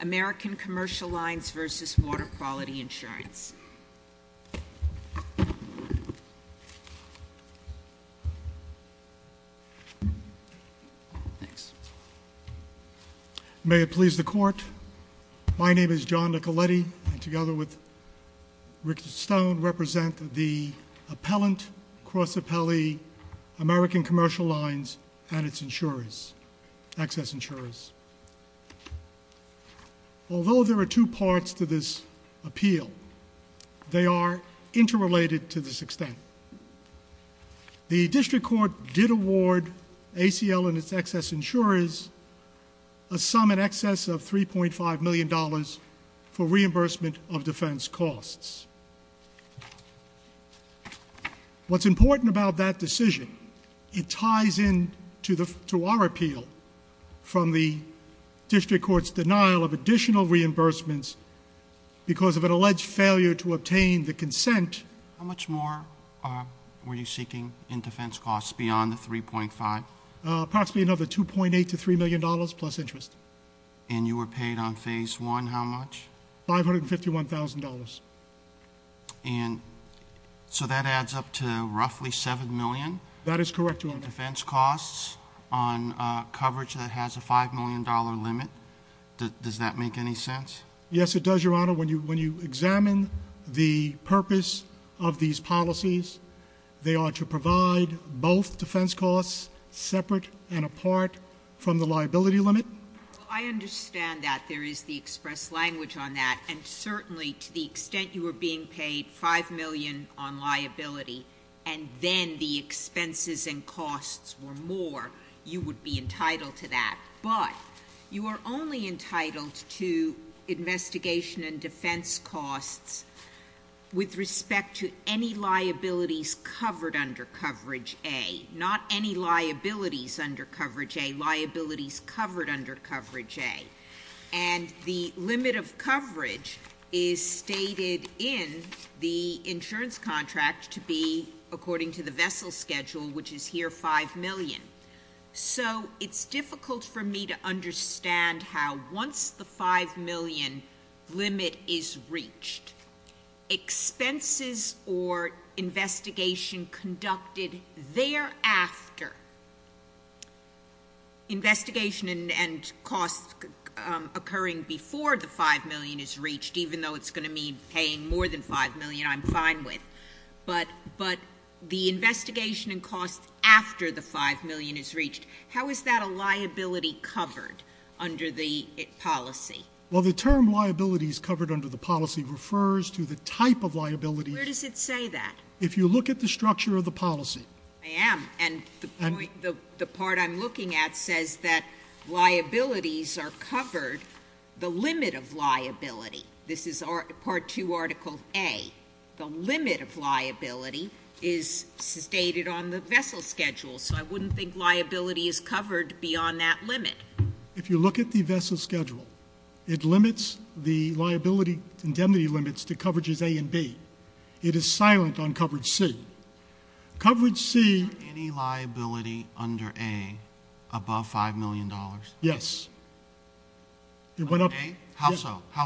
American Commercial Lines v Water Quality Insurance May it please the court, my name is John Nicoletti and together with Richard Stone represent the appellant, American Commercial Lines and its insurers, excess insurers. Although there are two parts to this appeal, they are interrelated to this extent. The district court did award ACL and its excess insurers a sum in excess of 3.5 million dollars for reimbursement of defense costs. What's important about that decision, it ties in to the to our appeal from the district court's denial of additional reimbursements because of an alleged failure to obtain the consent. How much more were you seeking in defense costs beyond the 3.5? Approximately another 2.8 to 3 million dollars plus interest. And you were paid on phase one how much? $551,000. And so that adds up to roughly 7 million? That is correct. Defense costs on coverage that has a 5 million dollar limit, does that make any sense? Yes it does your honor. When you when you examine the purpose of these policies, they are to provide both defense costs separate and apart from the liability limit? I understand that there is the express language on that and certainly to the extent you were being paid 5 million on liability and then the expenses and costs were more, you would be entitled to that. But you are only entitled to investigation and defense costs with respect to any liabilities covered under coverage A, not any liabilities under coverage A, liabilities covered under coverage A. And the limit of coverage is stated in the insurance contract to be according to the vessel schedule which is here 5 million. So it's difficult for me to understand how once the 5 million limit is reached, expenses or investigation conducted thereafter, investigation and costs occurring before the 5 million is reached, even though it's going to mean paying more than 5 million, I'm fine with. But the investigation and costs after the 5 million is reached, how is that a liability covered under the policy? Well the term liabilities covered under the policy refers to the type of liability. Where does it say that? If you look at the structure of the policy. I am and the part I'm looking at says that liabilities are covered, the limit of liability, this is part 2 article A, the limit of liability is stated on the vessel schedule. So I wouldn't think liability is covered beyond that limit. If you look at the vessel schedule, it limits the liability indemnity limits to coverages A and B. It is silent on coverage C. Any liability under A above 5 million dollars? Yes. Under A? How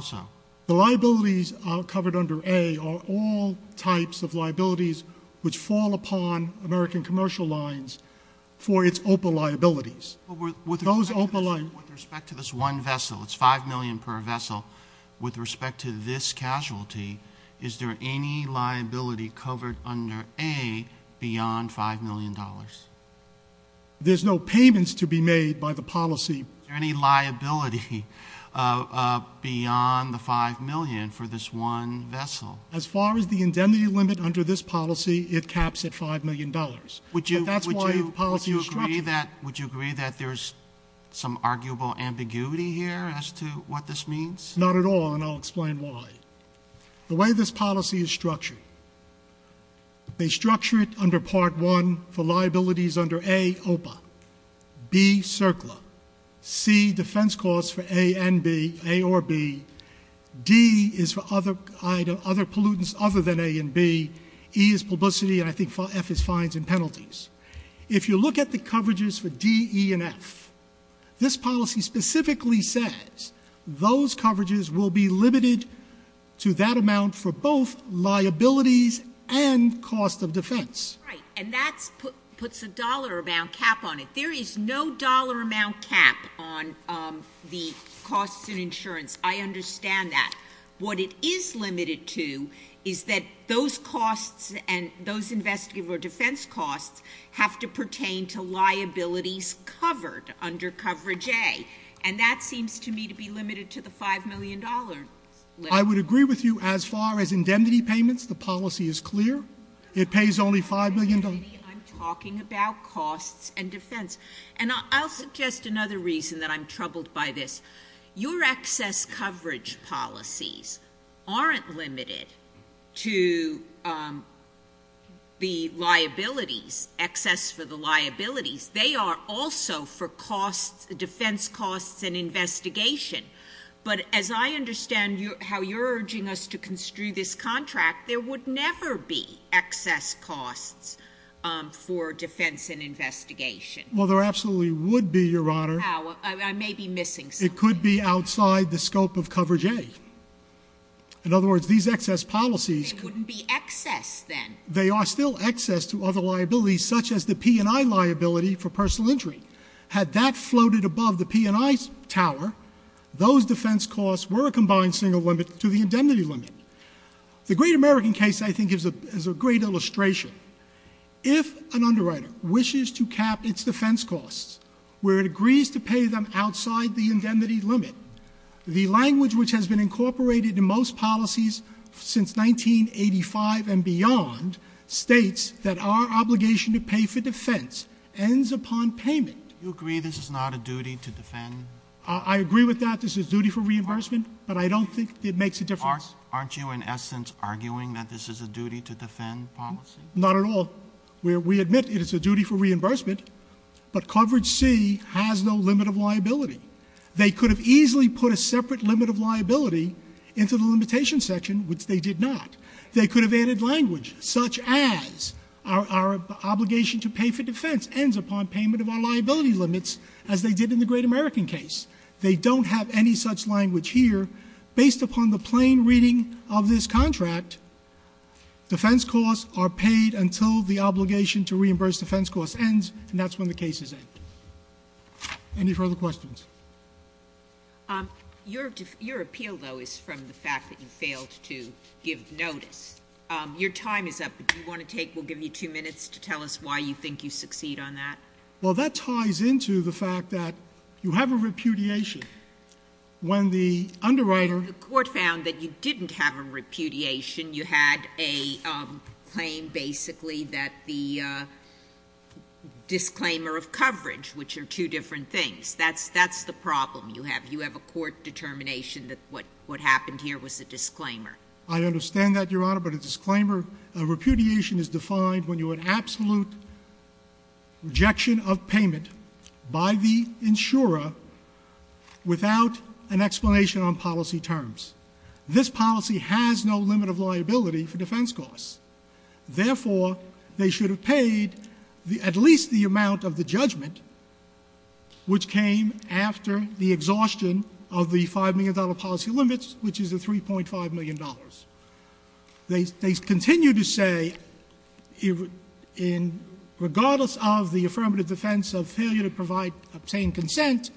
so? The liabilities covered under A are all types of liabilities which fall upon American commercial lines for its open liabilities. With respect to this one vessel, it's 5 million per vessel, with respect to this casualty, is there any liability covered under A beyond 5 million dollars? There's no payments to be made by the policy. Is there any liability beyond the 5 million for this one vessel? As far as the indemnity limit under this policy, it caps at 5 million dollars. Would you agree that there's some arguable ambiguity here as to what this means? Not at all, and I'll explain why. The way this policy is structured, they structure it under part 1 for liabilities under A, OPA, B, CERCLA, C, defense costs for A and B, A or B, D is for other pollutants other than A and B, E is publicity, and I think F is fines and penalties. If you look at the coverages for D, E, and F, this policy specifically says those coverages will be limited to that amount for both liabilities and cost of defense. Right, and that puts a dollar amount cap on it. There is no dollar amount cap on the costs and insurance. I understand that. What it is limited to is that those costs and those investigative or defense costs have to be limited, and that seems to me to be limited to the 5 million dollar limit. I would agree with you as far as indemnity payments, the policy is clear. It pays only 5 million dollars. I'm talking about costs and defense, and I'll suggest another reason that I'm troubled by this. Your excess coverage policies aren't limited to the liabilities, excess for the liabilities. They are also for defense costs and investigation, but as I understand how you're urging us to construe this contract, there would never be excess costs for defense and investigation. Well, there absolutely would be, Your Honor. How? I may be missing something. It could be outside the scope of coverage A. In other words, these excess policies... They wouldn't be excess, then. They are still excess to other liabilities, such as the P&I liability for personal injury. Had that floated above the P&I tower, those defense costs were a combined single limit to the indemnity limit. The Great American case, I think, is a great illustration. If an underwriter wishes to cap its defense costs where it agrees to pay them outside the indemnity limit, the language which has been incorporated in most policies since 1985 and beyond states that our obligation to pay for defense ends upon payment. You agree this is not a duty to defend? I agree with that. This is duty for reimbursement, but I don't think it makes a difference. Aren't you, in essence, arguing that this is a duty to defend policy? Not at all. We admit it is a duty for reimbursement, but coverage C has no limit of liability. They could have easily put a separate limit of liability into the limitation section, which they did not. They could have added language such as our obligation to pay for defense ends upon payment of our liability limits as they did in the Great American case. They don't have any such language here. Based upon the plain reading of this contract, defense costs are paid until the obligation to reimburse defense costs ends, and that's when the cases end. Any further questions? Your appeal, though, is from the fact that you failed to give notice. Your time is up. If you want to take, we'll give you two minutes to tell us why you think you succeed on that. Well, that ties into the fact that you have a repudiation. When the underwriter — The court found that you didn't have a repudiation. You had a claim, basically, that the disclaimer of coverage, which are two different things. That's the problem you have. You have a court determination that what happened here was a disclaimer. I understand that, Your Honor, but a disclaimer of repudiation is defined when you have absolute rejection of payment by the insurer without an explanation on policy terms. This policy has no limit of liability for defense costs. Therefore, they should have paid at least the amount of the judgment, which came after the exhaustion of the $5 million policy limits, which is the $3.5 million. They continue to say, regardless of the affirmative defense of failure to obtain consent,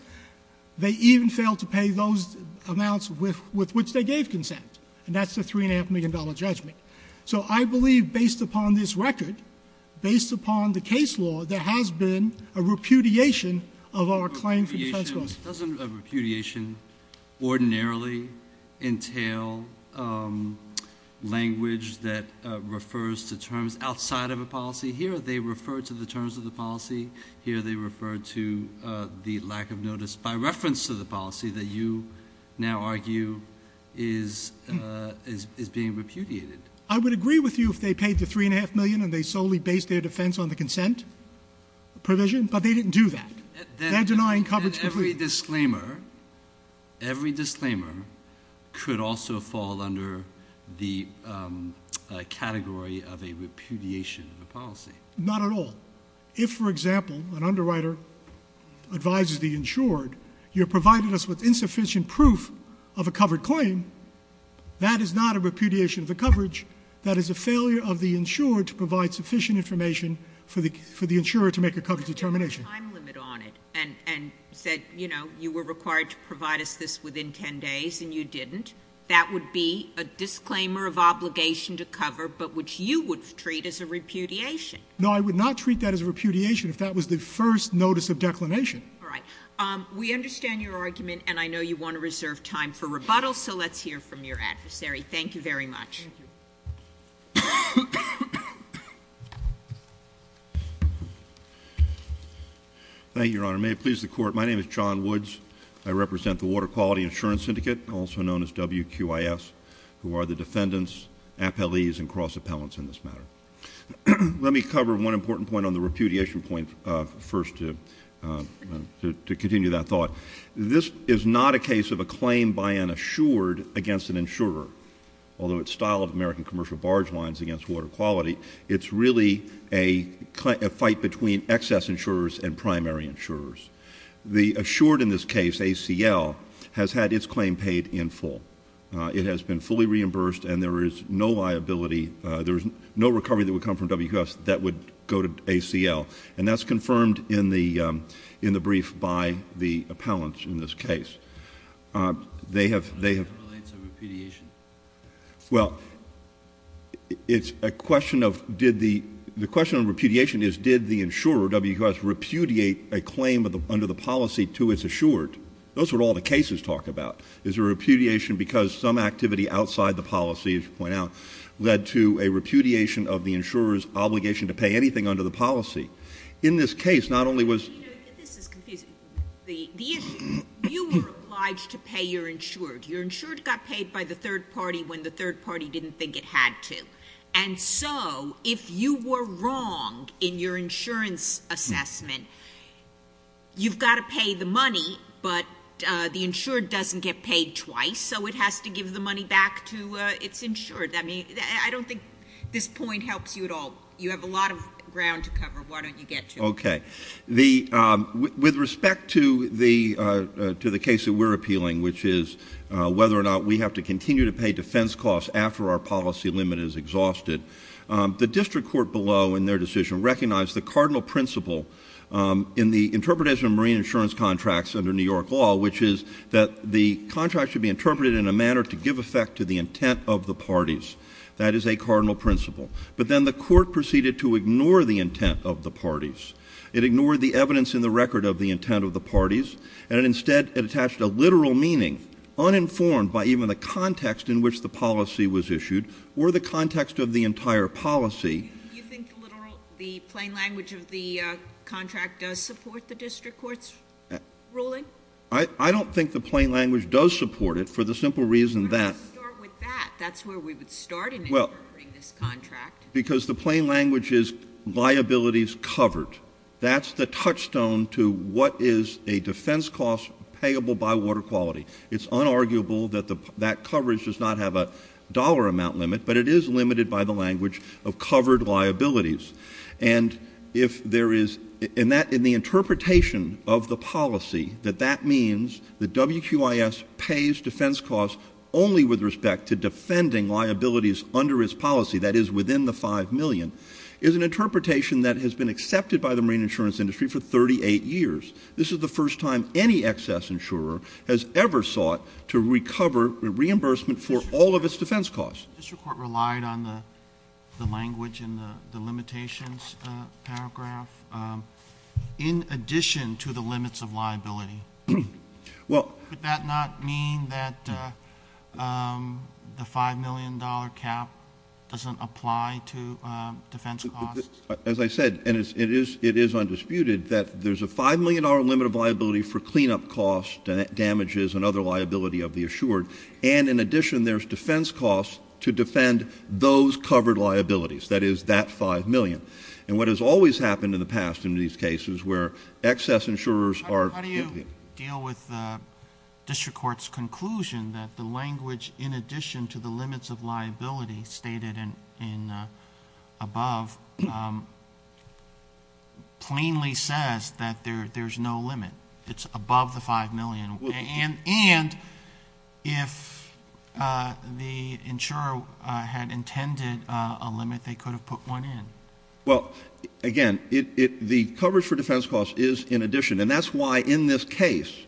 they even fail to pay those amounts with which they gave consent. And that's the $3.5 million judgment. So I believe, based upon this record, based upon the case law, there has been a repudiation of our claim for defense costs. Doesn't a repudiation ordinarily entail language that refers to terms outside of a policy? Here, they refer to the terms of the policy. Here, they refer to the lack of notice by reference to the policy that you now argue is being repudiated. I would agree with you if they paid the $3.5 million and they solely based their defense on the consent provision, but they didn't do that. They're denying coverage completely. Every disclaimer could also fall under the category of a repudiation of a policy. Not at all. If, for example, an underwriter advises the insured, you provided us with insufficient proof of a covered claim, that is not a repudiation of the coverage. That is a failure of the insured to provide sufficient information for the insurer to make a coverage determination. But if they put a time limit on it and said, you know, you were required to provide us this within 10 days and you didn't, that would be a disclaimer of obligation to cover, but which you would treat as a repudiation. No, I would not treat that as a repudiation if that was the first notice of declination. All right. We understand your argument, and I know you want to reserve time for rebuttal, so let's hear from your adversary. Thank you very much. Thank you, Your Honor. May it please the Court, my name is John Woods. I represent the Water Quality Insurance Syndicate, also known as WQIS, who are the defendants, appellees, and cross-appellants in this matter. Let me cover one important point on the repudiation point first to continue that thought. This is not a case of a claim by an assured against an insurer, although its style of American commercial barge lines against water quality, it's really a fight between excess insurers and primary insurers. The assured in this case, ACL, has had its claim paid in full. It has been fully reimbursed, and there is no liability, there is no recovery that would come from WQIS that would go to ACL, and that's confirmed in the brief by the appellants in this case. They have— How does that relate to repudiation? Well, it's a question of did the—the question of repudiation is did the insurer, WQIS, repudiate a claim under the policy to its assured? Those are what all the cases talk about. Is there repudiation because some activity outside the policy, as you point out, led to a repudiation of the insurer's obligation to pay anything under the policy? In this case, not only was— You know, this is confusing. The issue—you were obliged to pay your insured. Your insured got paid by the third party when the third party didn't think it had to, and so if you were wrong in your insurance assessment, you've got to pay the money, but the insured doesn't get paid twice, so it has to give the money back to its insured. I mean, I don't think this point helps you at all. You have a lot of ground to cover. Why don't you get to it? Okay. The—with respect to the case that we're appealing, which is whether or not we have to continue to pay defense costs after our policy limit is exhausted, the district court below in their decision recognized the cardinal principle in the interpretation of marine insurance contracts under New York law, which is that the contract should be interpreted in a manner to give effect to the intent of the parties. That is a cardinal principle. But then the court proceeded to ignore the intent of the parties. It ignored the evidence in the record of the intent of the parties, and instead it attached a literal meaning, uninformed by even the context in which the policy was issued or the context of the entire policy. Do you think the literal—the plain language of the contract does support the district court's ruling? I don't think the plain language does support it for the simple reason that— Why don't you start with that? That's where we would start in interpreting this contract. Because the plain language is liabilities covered. That's the touchstone to what is a defense cost payable by water quality. It's unarguable that that coverage does not have a dollar amount limit, but it is limited by the language of covered liabilities. And if there is—in the interpretation of the policy, that that means that WQIS pays defense costs only with respect to defending liabilities under its policy, that is within the $5 million, is an interpretation that has been accepted by the marine insurance industry for 38 years. This is the first time any excess insurer has ever sought to recover reimbursement for all of its defense costs. The district court relied on the language in the limitations paragraph in addition to the limits of liability. Well— Would that not mean that the $5 million cap doesn't apply to defense costs? As I said, and it is undisputed, that there's a $5 million limit of liability for cleanup costs, damages, and other liability of the assured. And in addition, there's defense costs to defend those covered liabilities, that is, that $5 million. And what has always happened in the past in these cases where excess insurers are— deal with the district court's conclusion that the language in addition to the limits of liability stated in above plainly says that there's no limit. It's above the $5 million. And if the insurer had intended a limit, they could have put one in. Well, again, the coverage for defense costs is in addition. And that's why in this case,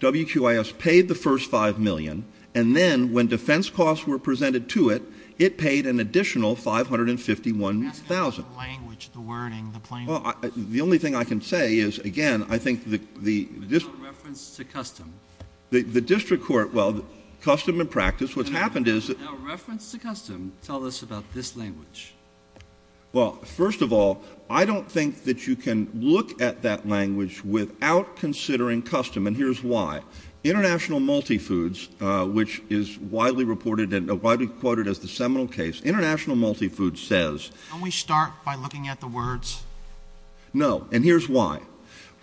WQIS paid the first $5 million, and then when defense costs were presented to it, it paid an additional $551,000. That's not the language, the wording, the plain words. Well, the only thing I can say is, again, I think the— No reference to custom. The district court—well, custom and practice. What's happened is— No reference to custom. Tell us about this language. Well, first of all, I don't think that you can look at that language without considering custom, and here's why. International Multifoods, which is widely reported and widely quoted as the seminal case, International Multifoods says— Can we start by looking at the words? No, and here's why.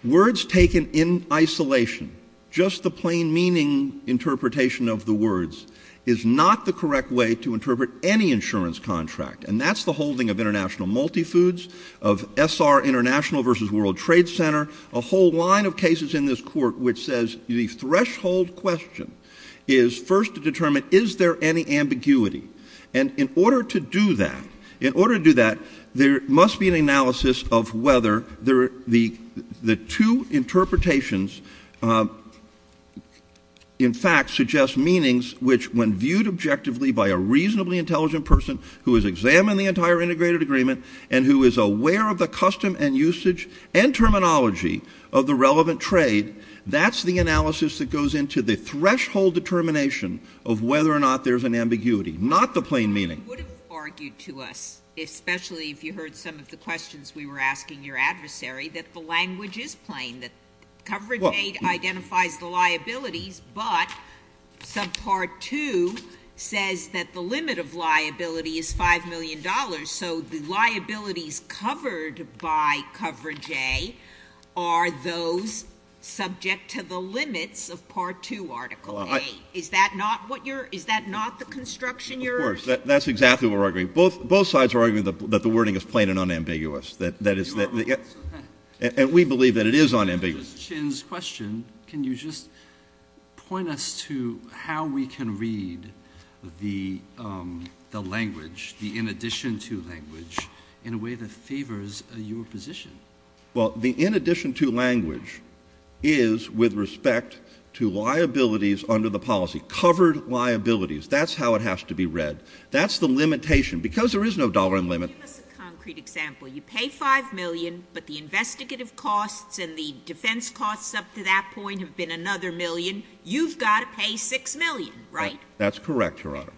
Words taken in isolation, just the plain meaning interpretation of the words, is not the correct way to interpret any insurance contract. And that's the holding of International Multifoods, of SR International v. World Trade Center, a whole line of cases in this court which says the threshold question is first to determine, is there any ambiguity? And in order to do that, there must be an analysis of whether the two interpretations, in fact, suggest meanings which, when viewed objectively by a reasonably intelligent person who has examined the entire integrated agreement and who is aware of the custom and usage and terminology of the relevant trade, that's the analysis that goes into the threshold determination of whether or not there's an ambiguity, not the plain meaning. You would have argued to us, especially if you heard some of the questions we were asking your adversary, that the language is plain, that coverage aid identifies the liabilities, but subpart 2 says that the limit of liability is $5 million, so the liabilities covered by coverage aid are those subject to the limits of part 2 article 8. Is that not the construction you're urging? Of course. That's exactly what we're arguing. Both sides are arguing that the wording is plain and unambiguous. And we believe that it is unambiguous. Mr. Chin's question, can you just point us to how we can read the language, the in addition to language, in a way that favors your position? Well, the in addition to language is with respect to liabilities under the policy, covered liabilities. That's how it has to be read. That's the limitation. Because there is no dollar limit. Give us a concrete example. You pay $5 million, but the investigative costs and the defense costs up to that point have been another million. You've got to pay $6 million, right? That's correct, Your Honor.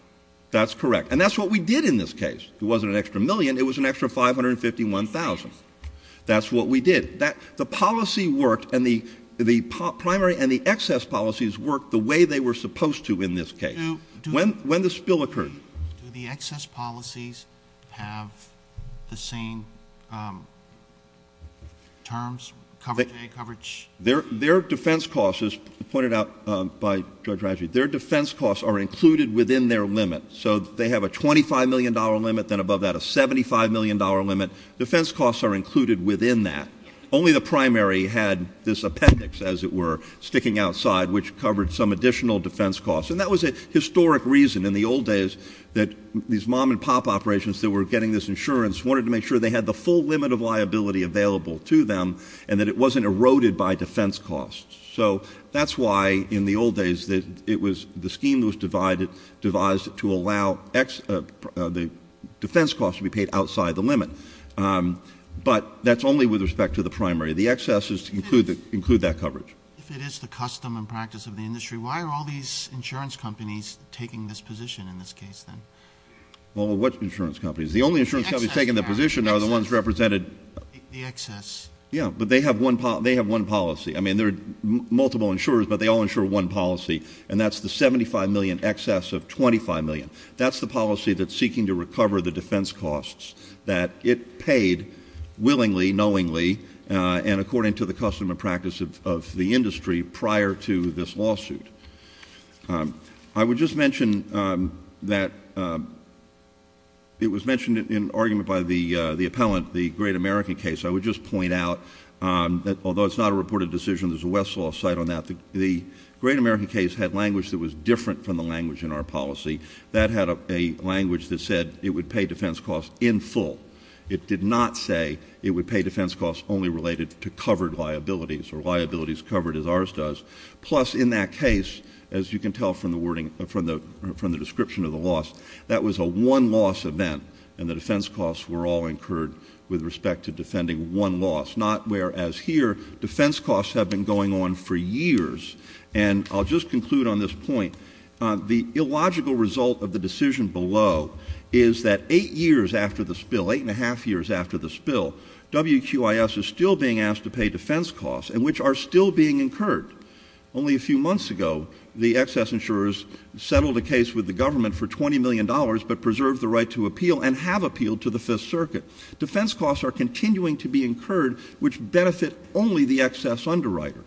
That's correct. And that's what we did in this case. It wasn't an extra million. It was an extra $551,000. That's what we did. The policy worked and the excess policies worked the way they were supposed to in this case. When the spill occurred. Do the excess policies have the same terms, coverage? Their defense costs, as pointed out by Judge Rajvi, their defense costs are included within their limit. So they have a $25 million limit, then above that a $75 million limit. Defense costs are included within that. Only the primary had this appendix, as it were, sticking outside, which covered some additional defense costs. And that was a historic reason in the old days that these mom and pop operations that were getting this insurance wanted to make sure they had the full limit of liability available to them and that it wasn't eroded by defense costs. So that's why in the old days it was the scheme that was devised to allow the defense costs to be paid outside the limit. But that's only with respect to the primary. The excesses include that coverage. If it is the custom and practice of the industry, why are all these insurance companies taking this position in this case, then? Well, what insurance companies? The only insurance companies taking the position are the ones represented. The excess. Yeah, but they have one policy. I mean, there are multiple insurers, but they all insure one policy, and that's the $75 million excess of $25 million. That's the policy that's seeking to recover the defense costs that it paid willingly, knowingly, and according to the custom and practice of the industry prior to this lawsuit. I would just mention that it was mentioned in an argument by the appellant, the Great American case. I would just point out that although it's not a reported decision, there's a Westlaw site on that. The Great American case had language that was different from the language in our policy. That had a language that said it would pay defense costs in full. It did not say it would pay defense costs only related to covered liabilities or liabilities covered as ours does. Plus, in that case, as you can tell from the description of the loss, that was a one-loss event, and the defense costs were all incurred with respect to defending one loss, not whereas here, defense costs have been going on for years. And I'll just conclude on this point. The illogical result of the decision below is that eight years after the spill, eight and a half years after the spill, WQIS is still being asked to pay defense costs, and which are still being incurred. Only a few months ago, the excess insurers settled a case with the government for $20 million, but preserved the right to appeal and have appealed to the Fifth Circuit. Defense costs are continuing to be incurred, which benefit only the excess underwriter.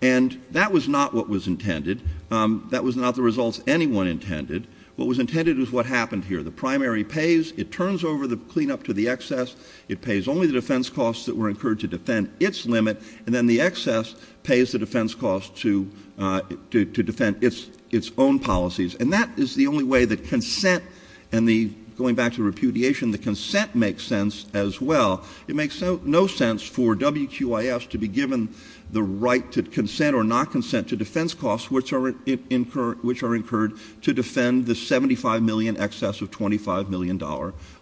And that was not what was intended. That was not the results anyone intended. What was intended was what happened here. The primary pays. It turns over the cleanup to the excess. It pays only the defense costs that were incurred to defend its limit, and then the excess pays the defense costs to defend its own policies. And that is the only way that consent and the going back to repudiation, the consent makes sense as well. It makes no sense for WQIS to be given the right to consent or not consent to defense costs, which are incurred to defend the $75 million excess of $25 million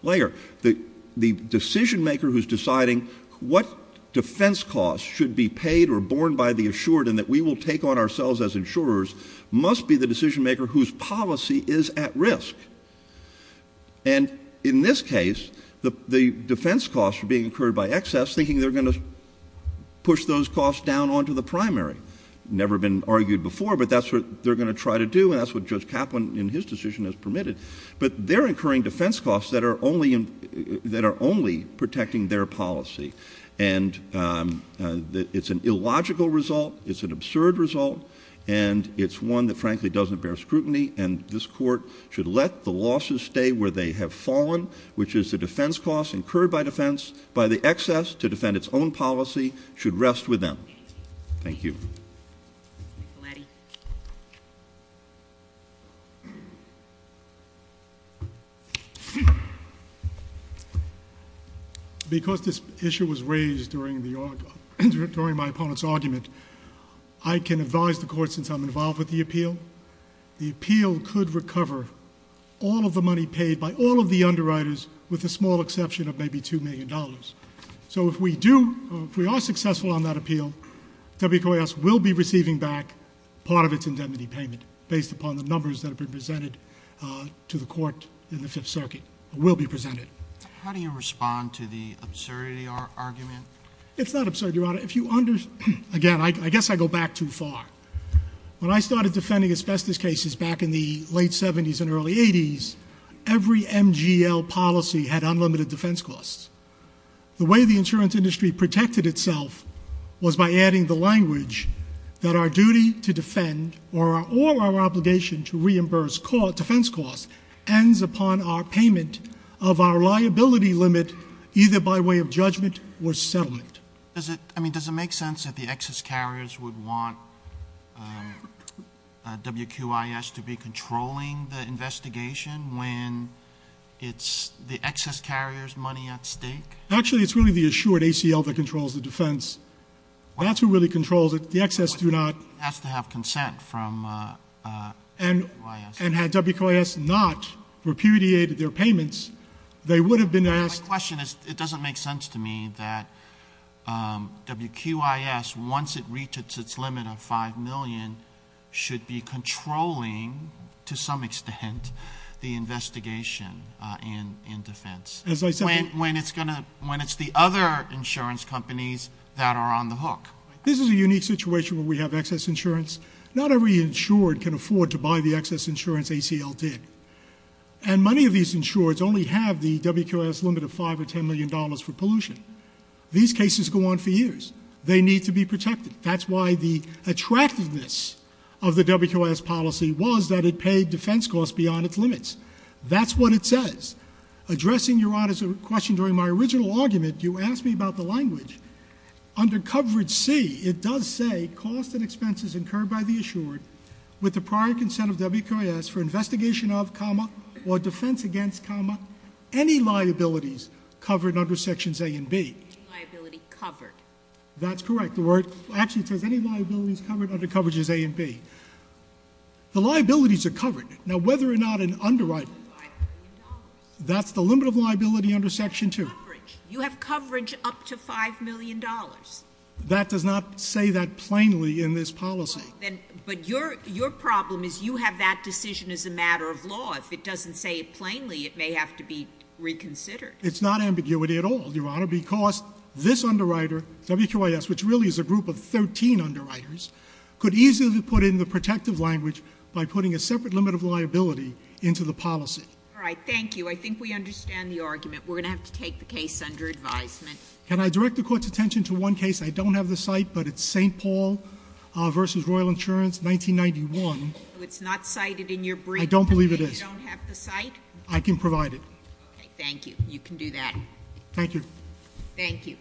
layer. The decision maker who's deciding what defense costs should be paid or borne by the assured and that we will take on ourselves as insurers must be the decision maker whose policy is at risk. And in this case, the defense costs are being incurred by excess, thinking they're going to push those costs down onto the primary. Never been argued before, but that's what they're going to try to do, and that's what Judge Kaplan in his decision has permitted. But they're incurring defense costs that are only protecting their policy. And it's an illogical result. It's an absurd result. And it's one that, frankly, doesn't bear scrutiny. And this court should let the losses stay where they have fallen, which is the defense costs incurred by defense by the excess to defend its own policy, should rest with them. Thank you. Because this issue was raised during my opponent's argument, I can advise the court since I'm involved with the appeal. The appeal could recover all of the money paid by all of the underwriters with the small exception of maybe $2 million. So if we do, if we are successful on that appeal, WQAS will be receiving back part of its indemnity payment based upon the numbers that have been presented to the court in the Fifth Circuit, will be presented. How do you respond to the absurdity argument? It's not absurd, Your Honor. If you understand, again, I guess I go back too far. When I started defending asbestos cases back in the late 70s and early 80s, every MGL policy had unlimited defense costs. The way the insurance industry protected itself was by adding the language that our duty to defend or our obligation to reimburse defense costs ends upon our payment of our liability limit either by way of judgment or settlement. Does it make sense that the excess carriers would want WQIS to be controlling the investigation when it's the excess carrier's money at stake? Actually, it's really the assured ACL that controls the defense. That's who really controls it. The excess do not. It has to have consent from WQIS. And had WQIS not repudiated their payments, they would have been asked. My question is it doesn't make sense to me that WQIS, once it reaches its limit of $5 million, should be controlling to some extent the investigation and defense. When it's the other insurance companies that are on the hook. This is a unique situation where we have excess insurance. Not every insured can afford to buy the excess insurance ACL did. And many of these insureds only have the WQIS limit of $5 or $10 million for pollution. These cases go on for years. They need to be protected. That's why the attractiveness of the WQIS policy was that it paid defense costs beyond its limits. That's what it says. Addressing Your Honor's question during my original argument, you asked me about the language. Under coverage C, it does say cost and expenses incurred by the assured with the prior consent of WQIS for investigation of, or defense against, any liabilities covered under sections A and B. Any liability covered. That's correct. Actually, it says any liabilities covered under coverages A and B. The liabilities are covered. Now, whether or not an underwriting. That's the limit of liability under section 2. You have coverage up to $5 million. That does not say that plainly in this policy. But your problem is you have that decision as a matter of law. If it doesn't say it plainly, it may have to be reconsidered. It's not ambiguity at all, Your Honor, because this underwriter, WQIS, which really is a group of 13 underwriters, could easily put in the protective language by putting a separate limit of liability into the policy. All right, thank you. I think we understand the argument. We're going to have to take the case under advisement. Can I direct the Court's attention to one case? I don't have the site, but it's St. Paul v. Royal Insurance, 1991. It's not cited in your brief. I don't believe it is. You don't have the site? I can provide it. Thank you. You can do that. Thank you. Thank you.